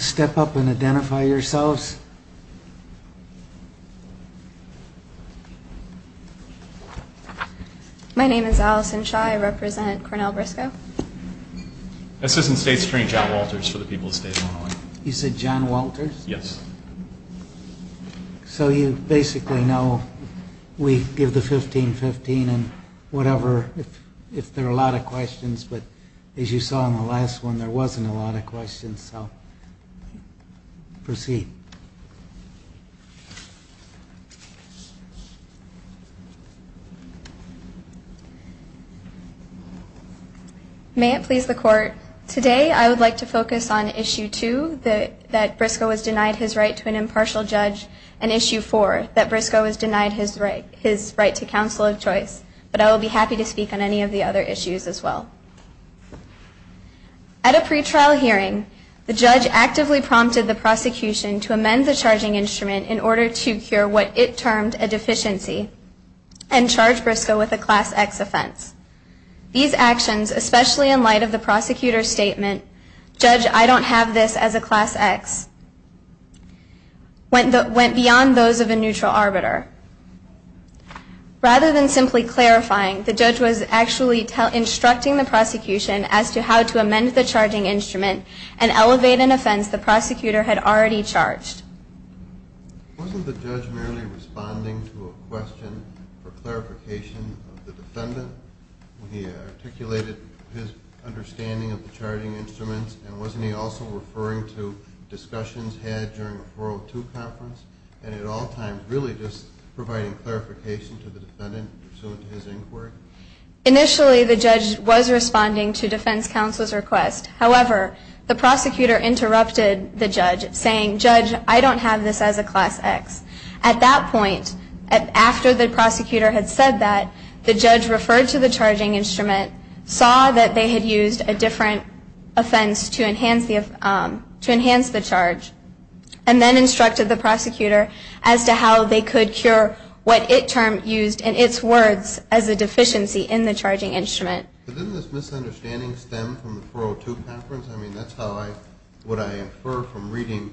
Step up and identify yourselves. My name is Allison Shaw. I represent Cornell Brisco. Assistant State Secretary John Walters for the people of State of Illinois. You said John Walters? Yes. So you basically know we give the 15-15 and whatever if there are a lot of questions. But as you saw in the last one, there wasn't a lot of questions. So proceed. May it please the Court, today I would like to focus on Issue 2, that Brisco was denied his right to an impartial judge, and Issue 4, that Brisco was denied his right to counsel of choice. But I will be happy to speak on any of the other issues as well. At a pretrial hearing, the judge actively prompted the prosecution to amend the charging instrument in order to cure what it termed a deficiency and charge Brisco with a Class X offense. These actions, especially in light of the prosecutor's statement, Judge, I don't have this as a Class X, went beyond those of a neutral arbiter. Rather than simply clarifying, the judge was actually instructing the prosecution as to how to amend the charging instrument and elevate an offense the prosecutor had already charged. Wasn't the judge merely responding to a question for clarification of the defendant? He articulated his understanding of the charging instruments, and wasn't he also referring to discussions had during a 402 conference? And at all times, really just providing clarification to the defendant in pursuit of his inquiry? Initially, the judge was responding to defense counsel's request. However, the prosecutor interrupted the judge, saying, Judge, I don't have this as a Class X. At that point, after the prosecutor had said that, the judge referred to the charging instrument, saw that they had used a different offense to enhance the charge, and then instructed the prosecutor as to how they could cure what it termed and its words as a deficiency in the charging instrument. But didn't this misunderstanding stem from the 402 conference? I mean, that's how I, what I infer from reading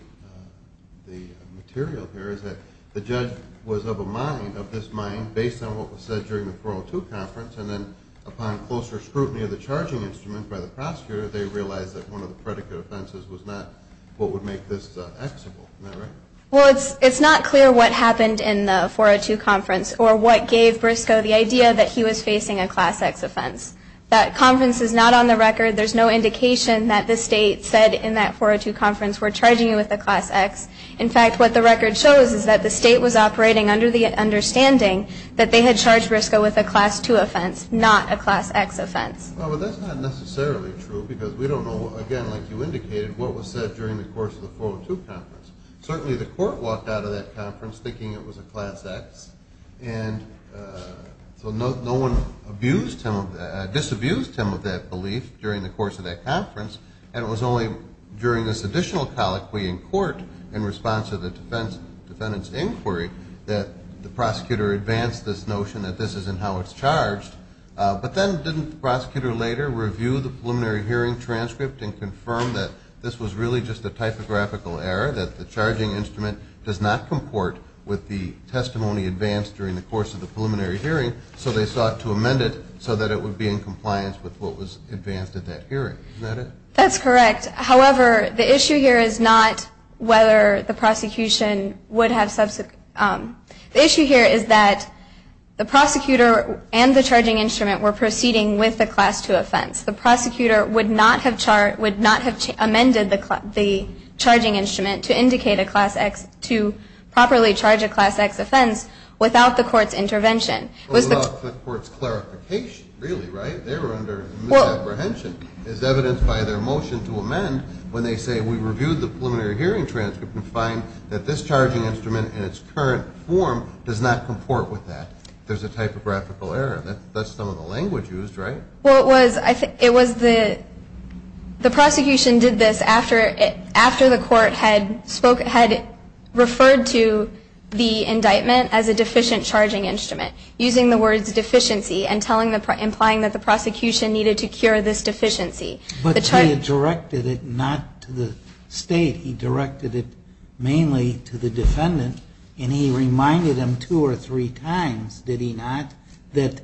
the material here, is that the judge was of a mind, of this mind, based on what was said during the 402 conference, and then upon closer scrutiny of the charging instrument by the prosecutor, they realized that one of the predicate offenses was not what would make this X-able. Isn't that right? Well, it's not clear what happened in the 402 conference, or what gave Briscoe the idea that he was facing a Class X offense. That conference is not on the record. There's no indication that the state said in that 402 conference, we're charging you with a Class X. In fact, what the record shows is that the state was operating under the understanding that they had charged Briscoe with a Class II offense, not a Class X offense. Well, but that's not necessarily true, because we don't know, again, like you indicated, what was said during the course of the 402 conference. Certainly the court walked out of that conference thinking it was a Class X, and so no one disabused him of that belief during the course of that conference, and it was only during this additional colloquy in court in response to the defendant's inquiry that the prosecutor advanced this notion that this isn't how it's charged. But then didn't the prosecutor later review the preliminary hearing transcript and confirm that this was really just a typographical error, that the charging instrument does not comport with the testimony advanced during the course of the preliminary hearing, so they sought to amend it so that it would be in compliance with what was advanced at that hearing. Isn't that it? That's correct. However, the issue here is not whether the prosecution would have – the issue here is that the prosecutor and the charging instrument were proceeding with the Class II offense. The prosecutor would not have amended the charging instrument to indicate a Class X – to properly charge a Class X offense without the court's intervention. Without the court's clarification, really, right? They were under misapprehension, as evidenced by their motion to amend when they say, we reviewed the preliminary hearing transcript and find that this charging instrument in its current form does not comport with that. There's a typographical error. That's some of the language used, right? Well, it was the – the prosecution did this after the court had spoke – had referred to the indictment as a deficient charging instrument, using the words deficiency and telling the – implying that the prosecution needed to cure this deficiency. But he had directed it not to the State. He directed it mainly to the defendant, and he reminded them two or three times, did he not, that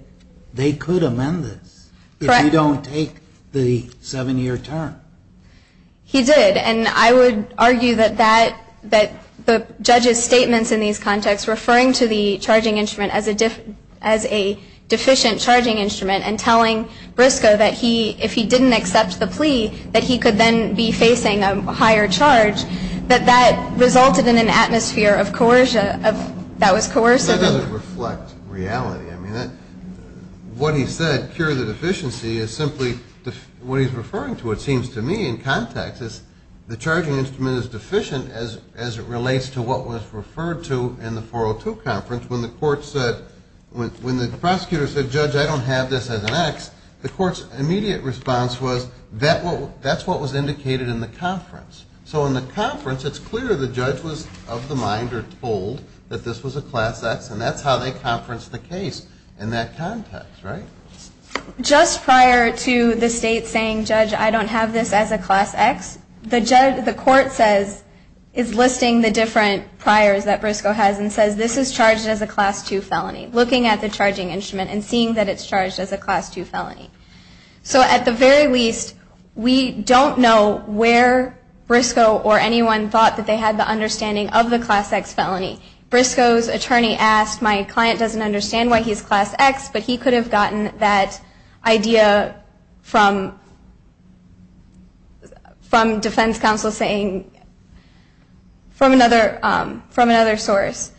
they could amend this if you don't take the seven-year term. He did. And I would argue that that – that the judge's statements in these contexts referring to the charging instrument as a – as a deficient charging instrument and telling Briscoe that he – if he didn't accept the plea, that he could then be facing a higher charge, that that resulted in an atmosphere of coercion – of – that was coercive. But that doesn't reflect reality. I mean, that – what he said, cure the deficiency, is simply – what he's referring to, it seems to me, in context, is the charging instrument is deficient as it relates to what was referred to in the 402 conference when the court said – when the prosecutor said, judge, I don't have this as an X, the court's immediate response was, that's what was indicated in the conference. So in the conference, it's clear the judge was of the mind or told that this was a class X, and that's how they conferenced the case in that context, right? Just prior to the state saying, judge, I don't have this as a class X, the judge – the court says – is listing the different priors that Briscoe has and says, this is charged as a class II felony, looking at the charging instrument and seeing that it's charged as a class II felony. So at the very least, we don't know where Briscoe or anyone thought that they had the understanding of the class X felony. Briscoe's attorney asked, my client doesn't understand why he's class X, but he could have gotten that idea from – from defense counsel saying – from another – from another source.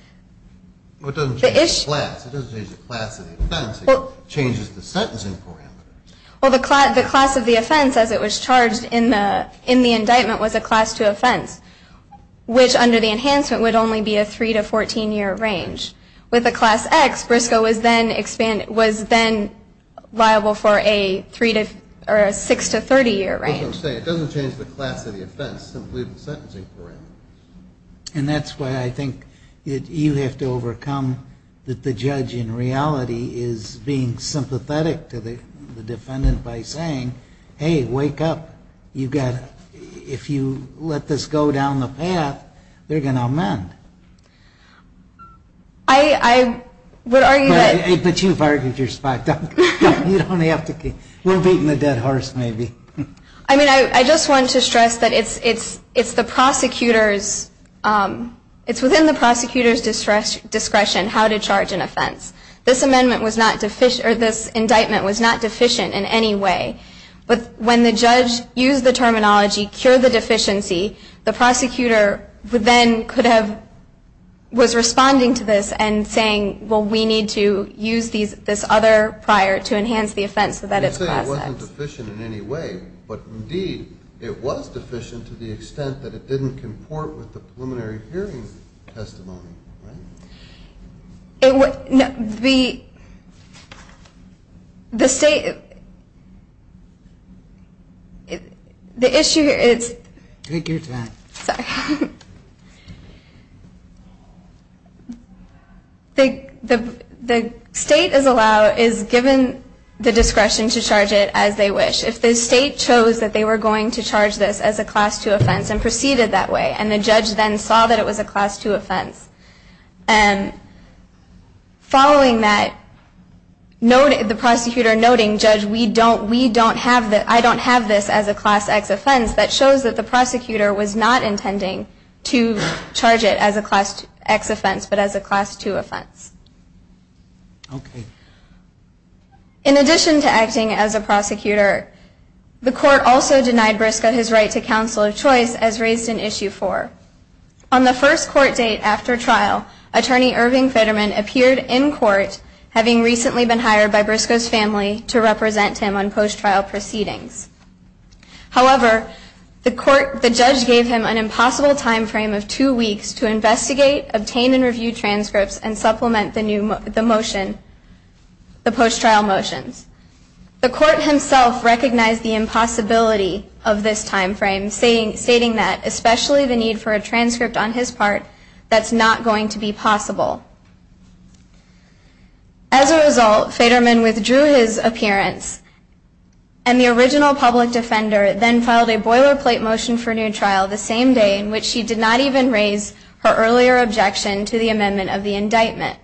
It doesn't change the class. It doesn't change the class of the offense. It changes the sentencing program. Well, the class of the offense, as it was charged in the – in the indictment, was a class II offense, which under the enhancement would only be a 3 to 14-year range. With a class X, Briscoe was then – was then liable for a 3 to – or a 6 to 30-year range. That's what I'm saying. It doesn't change the class of the offense, simply the sentencing program. And that's why I think you have to overcome that the judge in reality is being sympathetic to the defendant by saying, hey, wake up. You've got – if you let this go down the path, they're going to amend. I would argue that – But you've argued your spot. You don't have to – we're beating the dead horse maybe. I mean, I just want to stress that it's – it's the prosecutor's – it's within the prosecutor's discretion how to charge an offense. This amendment was not – or this indictment was not deficient in any way. But when the judge used the terminology, cure the deficiency, the prosecutor then could have – was responding to this and saying, well, we need to use this other prior to enhance the offense so that it's class X. You say it wasn't deficient in any way, but indeed it was deficient to the extent that it didn't comport with the preliminary hearing testimony, right? It – the state – the issue here is – Take your time. Sorry. The state is allowed – is given the discretion to charge it as they wish. If the state chose that they were going to charge this as a class II offense and proceeded that way, and the judge then saw that it was a class II offense, following that, the prosecutor noting, judge, we don't – we don't have – I don't have this as a class X offense. That shows that the prosecutor was not intending to charge it as a class X offense but as a class II offense. Okay. In addition to acting as a prosecutor, the court also denied Briscoe his right to counsel of choice as raised in Issue 4. On the first court date after trial, Attorney Irving Fetterman appeared in court having recently been hired by Briscoe's family to represent him on post-trial proceedings. However, the court – the judge gave him an impossible time frame of two weeks to investigate, obtain and review transcripts, and supplement the new – the motion – the post-trial motions. The court himself recognized the impossibility of this time frame, stating that, especially the need for a transcript on his part, that's not going to be possible. As a result, Fetterman withdrew his appearance, and the original public defender then filed a boilerplate motion for new trial the same day in which she did not even raise her earlier objection to the amendment of the indictment.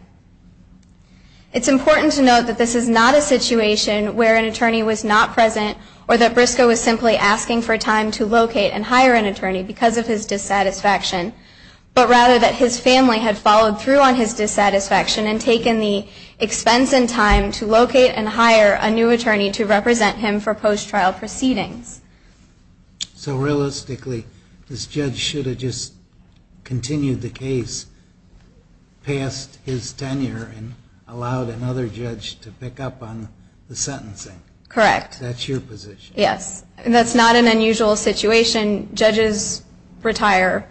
It's important to note that this is not a situation where an attorney was not present or that Briscoe was simply asking for time to locate and hire an attorney because of his dissatisfaction, but rather that his family had followed through on his dissatisfaction and taken the expense and time to locate and hire a new attorney to represent him for post-trial proceedings. So, realistically, this judge should have just continued the case past his tenure and allowed another judge to pick up on the sentencing? Correct. That's your position? Yes. That's not an unusual situation. Judges retire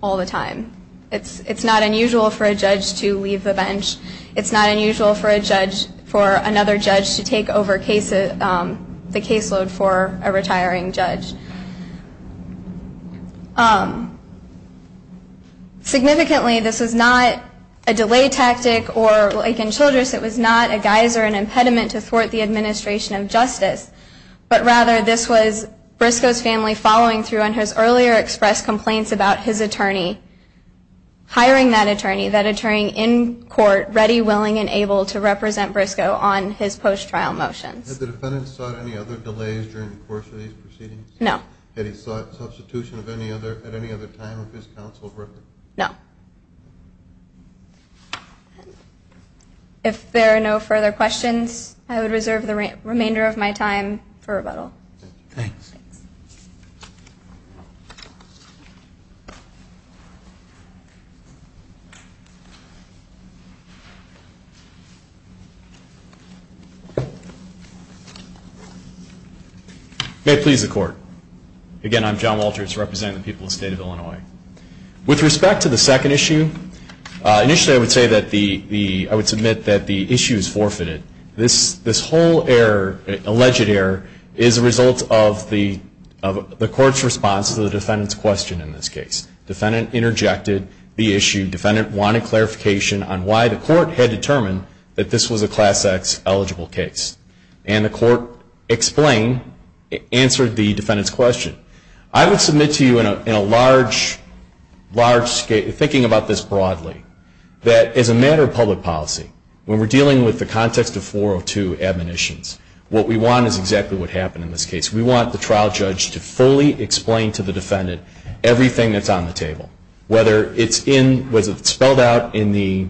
all the time. It's not unusual for a judge to leave the bench. It's not unusual for another judge to take over the caseload for a retiring judge. Significantly, this was not a delay tactic or like in Childress, it was not a geyser, an impediment to thwart the administration of justice, but rather this was Briscoe's family following through on his earlier expressed complaints about his attorney hiring that attorney, that attorney in court ready, willing, and able to represent Briscoe on his post-trial motions. Had the defendant sought any other delays during the course of these proceedings? No. Had he sought substitution at any other time of his counsel's record? No. If there are no further questions, I would reserve the remainder of my time for rebuttal. Thank you. Thanks. May it please the Court. Again, I'm John Walters representing the people of the State of Illinois. With respect to the second issue, initially I would say that the, I would submit that the issue is forfeited. This whole error, alleged error, is a result of the court's response to the defendant's question in this case. Defendant interjected the issue. Defendant wanted clarification. Defendant wanted clarification on why the court had determined that this was a Class X eligible case. And the court explained, answered the defendant's question. I would submit to you in a large, large scale, thinking about this broadly, that as a matter of public policy, when we're dealing with the context of 402 admonitions, what we want is exactly what happened in this case. We want the trial judge to fully explain to the defendant everything that's on the table, whether it's in, whether it's spelled out in the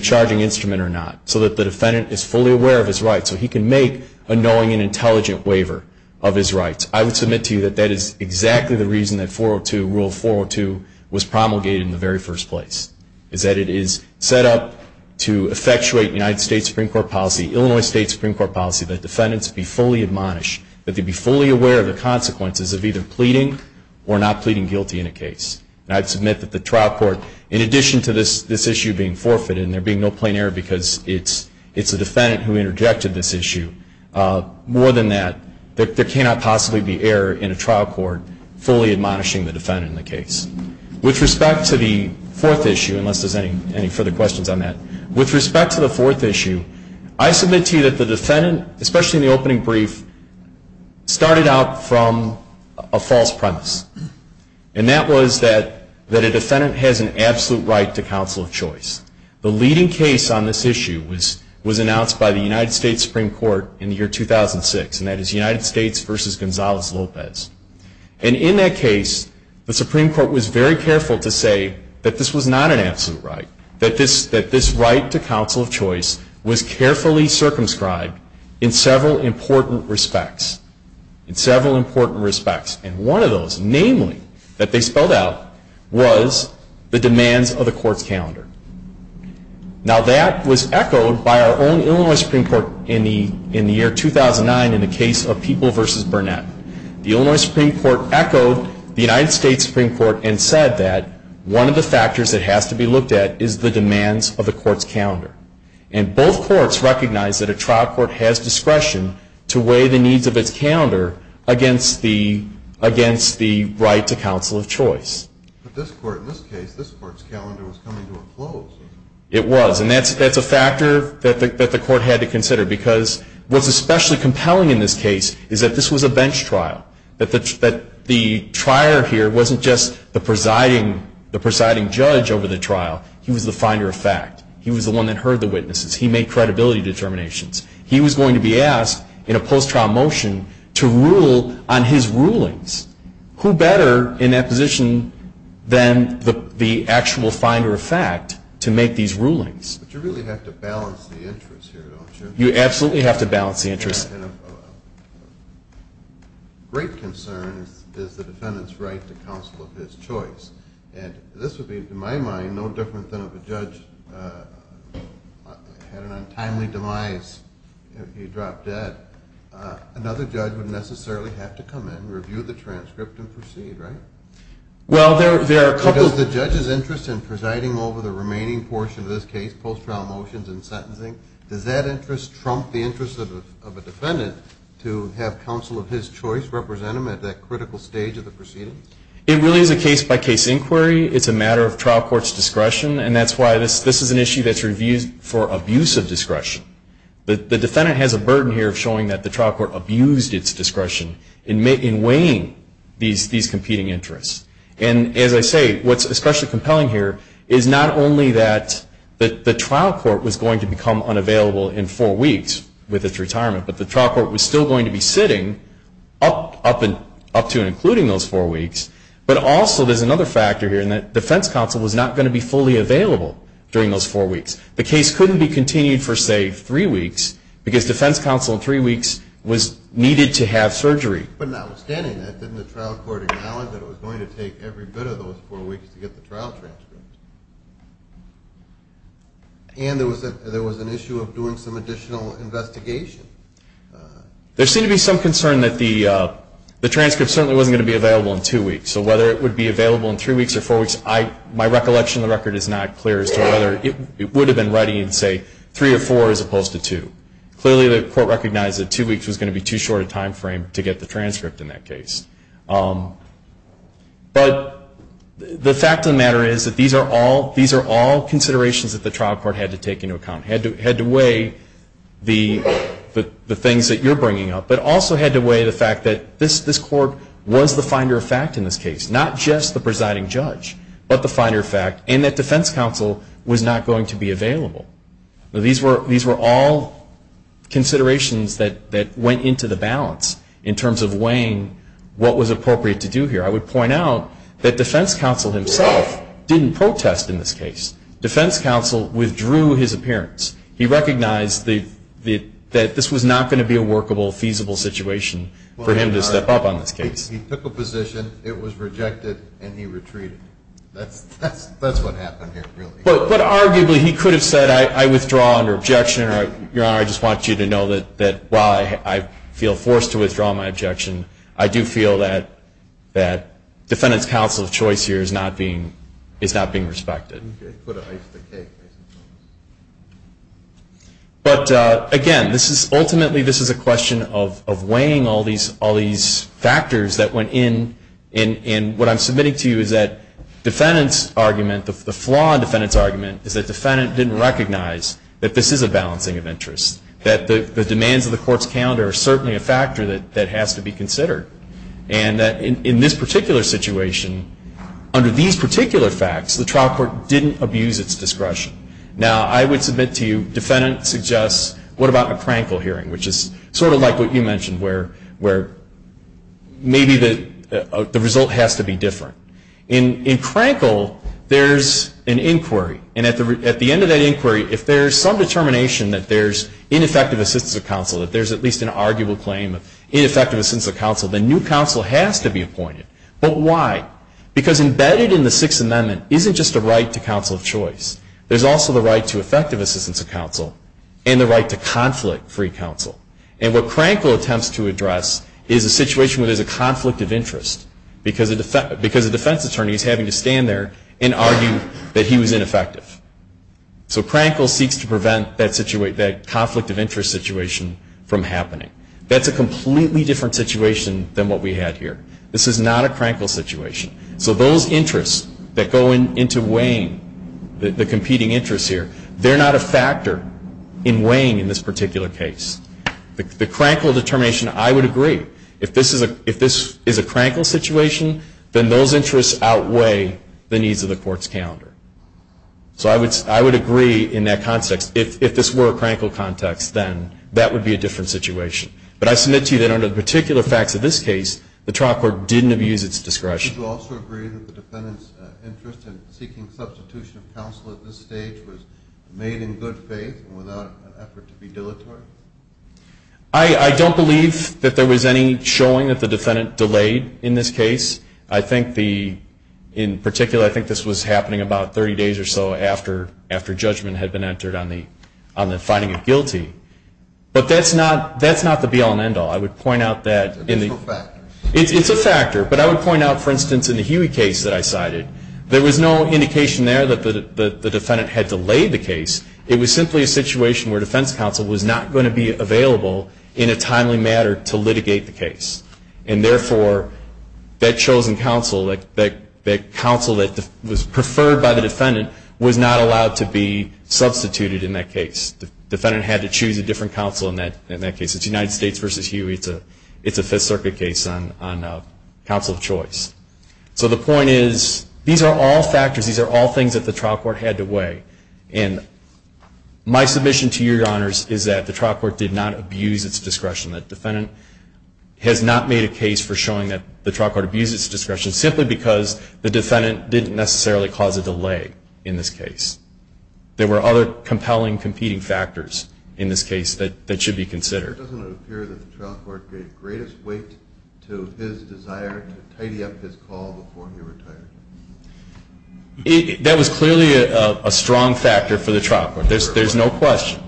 charging instrument or not, so that the defendant is fully aware of his rights, so he can make a knowing and intelligent waiver of his rights. I would submit to you that that is exactly the reason that 402, Rule 402, was promulgated in the very first place, is that it is set up to effectuate United States Supreme Court policy, Illinois State Supreme Court policy, that defendants be fully admonished, that they be fully aware of the consequences of either pleading or not pleading guilty in a case. And I'd submit that the trial court, in addition to this issue being forfeited and there being no plain error because it's a defendant who interjected this issue, more than that, there cannot possibly be error in a trial court fully admonishing the defendant in the case. With respect to the fourth issue, unless there's any further questions on that, with respect to the fourth issue, I submit to you that the defendant, especially in the opening brief, started out from a false premise. And that was that a defendant has an absolute right to counsel of choice. The leading case on this issue was announced by the United States Supreme Court in the year 2006, and that is United States v. Gonzalez-Lopez. And in that case, the Supreme Court was very careful to say that this was not an absolute right, that this right to counsel of choice was carefully circumscribed in several important respects. In several important respects. And one of those, namely, that they spelled out was the demands of the court's calendar. Now that was echoed by our own Illinois Supreme Court in the year 2009 in the case of People v. Burnett. The Illinois Supreme Court echoed the United States Supreme Court and said that one of the factors that has to be looked at is the demands of the court's calendar. And both courts recognized that a trial court has discretion to weigh the needs of its calendar against the right to counsel of choice. But this court, in this case, this court's calendar was coming to a close. It was. And that's a factor that the court had to consider, because what's especially compelling in this case is that this was a bench trial, that the trier here wasn't just the presiding judge over the trial. He was the finder of fact. He was the one that heard the witnesses. He made credibility determinations. He was going to be asked in a post-trial motion to rule on his rulings. Who better in that position than the actual finder of fact to make these rulings? But you really have to balance the interests here, don't you? You absolutely have to balance the interests. Great concern is the defendant's right to counsel of his choice. And this would be, in my mind, no different than if a judge had an untimely demise. He dropped dead. Another judge would necessarily have to come in, review the transcript, and proceed, right? Well, there are a couple. Does the judge's interest in presiding over the remaining portion of this case, post-trial motions and sentencing, does that interest trump the interest of a defendant to have counsel of his choice represent him at that critical stage of the proceedings? It really is a case-by-case inquiry. It's a matter of trial court's discretion, and that's why this is an issue that's reviewed for abuse of discretion. The defendant has a burden here of showing that the trial court abused its discretion in weighing these competing interests. And as I say, what's especially compelling here is not only that the trial court was going to become unavailable in four weeks with its retirement, but the trial court was still going to be sitting up to and including those four weeks, but also there's another factor here, and that defense counsel was not going to be fully available during those four weeks. The case couldn't be continued for, say, three weeks, because defense counsel in three weeks was needed to have surgery. But notwithstanding that, didn't the trial court acknowledge that it was going to take every bit of those four weeks to get the trial transcript? And there was an issue of doing some additional investigation. There seemed to be some concern that the transcript certainly wasn't going to be available in two weeks, so whether it would be available in three weeks or four weeks, my recollection of the record is not clear as to whether it would have been ready in, say, three or four as opposed to two. Clearly the court recognized that two weeks was going to be too short a time frame to get the transcript in that case. But the fact of the matter is that these are all considerations that the trial court had to take into account, had to weigh the things that you're bringing up, but also had to weigh the fact that this court was the finder of fact in this case, not just the presiding judge, but the finder of fact, and that defense counsel was not going to be available. I would point out that defense counsel himself didn't protest in this case. Defense counsel withdrew his appearance. He recognized that this was not going to be a workable, feasible situation for him to step up on this case. He took a position, it was rejected, and he retreated. That's what happened here, really. But arguably he could have said, I withdraw under objection. Your Honor, I just want you to know that while I feel forced to withdraw my objection, I do feel that defense counsel's choice here is not being respected. But again, ultimately this is a question of weighing all these factors that went in, and what I'm submitting to you is that the flaw in the defendant's argument is that the defendant didn't recognize that this is a balancing of interests, that the demands of the court's calendar are certainly a factor that has to be considered, and that in this particular situation, under these particular facts, the trial court didn't abuse its discretion. Now, I would submit to you, defendant suggests, what about a Crankle hearing, which is sort of like what you mentioned, where maybe the result has to be different. In Crankle, there's an inquiry, and at the end of that inquiry, if there's some determination that there's ineffective assistance of counsel, that there's at least an arguable claim of ineffective assistance of counsel, then new counsel has to be appointed. But why? Because embedded in the Sixth Amendment isn't just a right to counsel of choice. There's also the right to effective assistance of counsel, and the right to conflict-free counsel. And what Crankle attempts to address is a situation where there's a conflict of interest, because a defense attorney is having to stand there and argue that he was ineffective. So Crankle seeks to prevent that conflict of interest situation from happening. That's a completely different situation than what we had here. This is not a Crankle situation. So those interests that go into weighing the competing interests here, they're not a factor in weighing in this particular case. The Crankle determination, I would agree, if this is a Crankle situation, then those interests outweigh the needs of the court's calendar. So I would agree in that context. If this were a Crankle context, then that would be a different situation. But I submit to you that under the particular facts of this case, the trial court didn't abuse its discretion. Would you also agree that the defendant's interest in seeking substitution of counsel at this stage was made in good faith and without an effort to be dilatory? I don't believe that there was any showing that the defendant delayed in this case. I think the, in particular, I think this was happening about 30 days or so after judgment had been entered on the finding of guilty. But that's not the be-all and end-all. I would point out that. It's a factor. It's a factor. But I would point out, for instance, in the Huey case that I cited, there was no indication there that the defendant had delayed the case. It was simply a situation where defense counsel was not going to be available in a timely manner to litigate the case. And therefore, that chosen counsel, that counsel that was preferred by the defendant, was not allowed to be substituted in that case. The defendant had to choose a different counsel in that case. It's United States v. Huey. It's a Fifth Circuit case on counsel of choice. So the point is, these are all factors. These are all things that the trial court had to weigh. And my submission to you, Your Honors, is that the trial court did not abuse its discretion. The defendant has not made a case for showing that the trial court abused its discretion simply because the defendant didn't necessarily cause a delay in this case. There were other compelling, competing factors in this case that should be considered. It doesn't appear that the trial court gave greatest weight to his desire to tidy up his call before he retired. That was clearly a strong factor for the trial court. There's no question.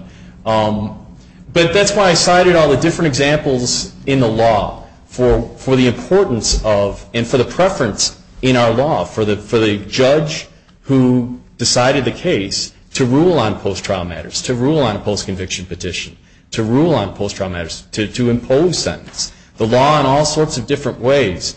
But that's why I cited all the different examples in the law for the importance of and for the preference in our law for the judge who decided the case to rule on post-trial matters, to rule on a post-conviction petition, to rule on post-trial matters, to impose sentence. The law in all sorts of different ways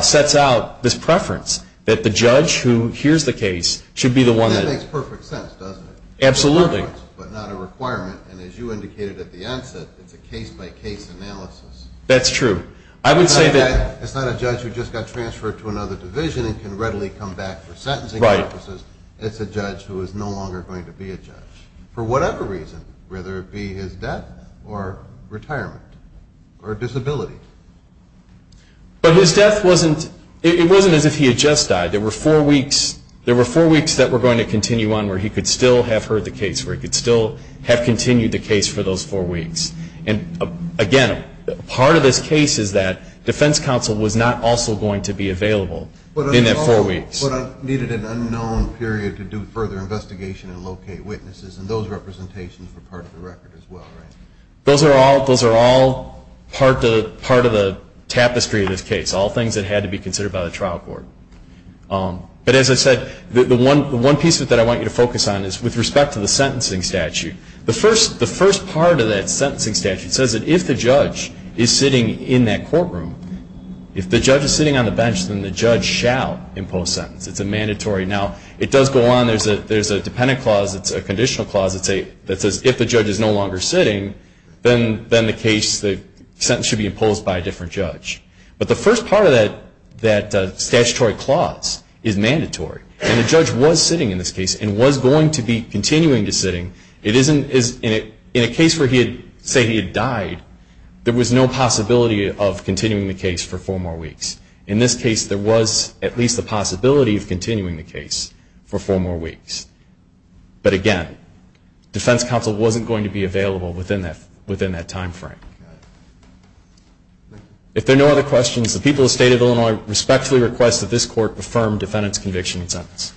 sets out this preference that the judge who hears the case should be the one that That makes perfect sense, doesn't it? Absolutely. But not a requirement. And as you indicated at the onset, it's a case-by-case analysis. That's true. I would say that it's not a judge who just got transferred to another division and can readily come back for sentencing purposes. It's a judge who is no longer going to be a judge for whatever reason, whether it be his death or retirement or disability. But his death wasn't as if he had just died. There were four weeks that were going to continue on where he could still have heard the case, where he could still have continued the case for those four weeks. And, again, part of this case is that defense counsel was not also going to be available in that four weeks. But needed an unknown period to do further investigation and locate witnesses, and those representations were part of the record as well, right? Those are all part of the tapestry of this case, all things that had to be considered by the trial court. But, as I said, the one piece that I want you to focus on is with respect to the sentencing statute. The first part of that sentencing statute says that if the judge is sitting in that courtroom, if the judge is sitting on the bench, then the judge shall impose sentence. It's a mandatory. Now, it does go on. There's a dependent clause that's a conditional clause that says if the judge is no longer sitting, then the sentence should be imposed by a different judge. But the first part of that statutory clause is mandatory. And the judge was sitting in this case and was going to be continuing to sitting. In a case where he had said he had died, there was no possibility of continuing the case for four more weeks. In this case, there was at least the possibility of continuing the case for four more weeks. But, again, defense counsel wasn't going to be available within that timeframe. If there are no other questions, the people of the State of Illinois respectfully request that this court affirm defendant's conviction and sentence.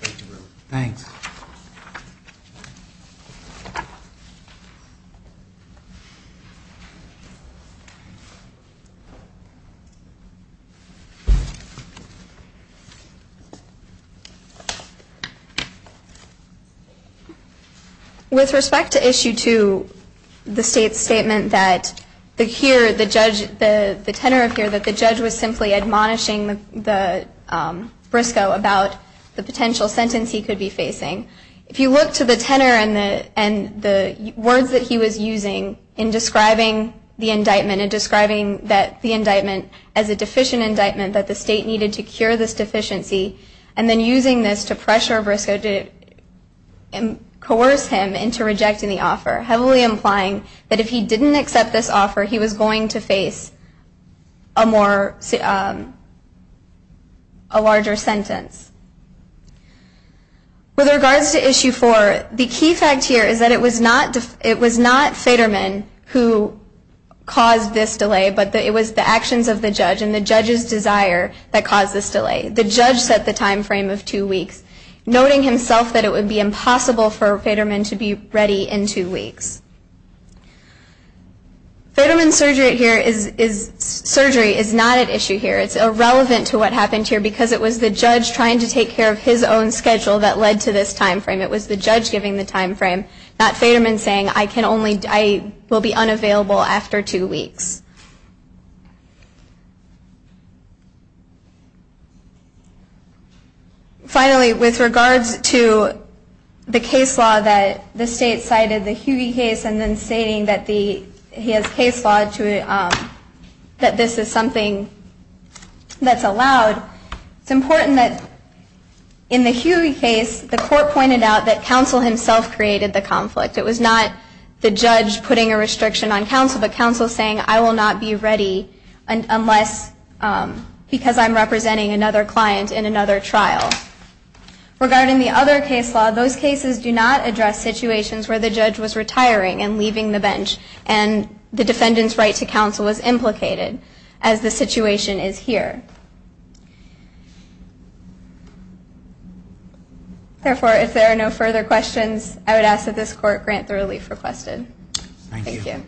Thanks. With respect to Issue 2, the State's statement that here the judge, the tenor of here that the judge was simply admonishing the briscoe about the potential sentence he could be facing, It's not true. It's not true. It's not true. If you look to the tenor and the words that he was using in describing the indictment and describing that the indictment as a deficient indictment, that the State needed to cure this deficiency, and then using this to pressure briscoe to coerce him into rejecting the offer, heavily implying that if he didn't accept this offer, he was going to face a larger sentence. With regards to Issue 4, the key fact here is that it was not Faderman who caused this delay, but it was the actions of the judge and the judge's desire that caused this delay. The judge set the timeframe of two weeks, noting himself that it would be impossible for Faderman to be ready in two weeks. Faderman's surgery here is not at issue here. It's irrelevant to what happened here, because it was the judge trying to take care of his own schedule that led to this timeframe. It was the judge giving the timeframe, not Faderman saying, I can only, I will be unavailable after two weeks. Finally, with regards to the case law that the State cited, the Hughey case, and then stating that he has case law to, that this is something that's allowed, it's important that in the Hughey case, the court pointed out that counsel himself created the conflict. It was not the judge putting a restriction on counsel, but counsel saying, I will not be ready unless, because I'm representing another client in another trial. Regarding the other case law, those cases do not address situations where the judge was retiring and leaving the bench, and the defendant's right to counsel was implicated, as the situation is here. Therefore, if there are no further questions, I would ask that this court grant the relief requested. Thank you.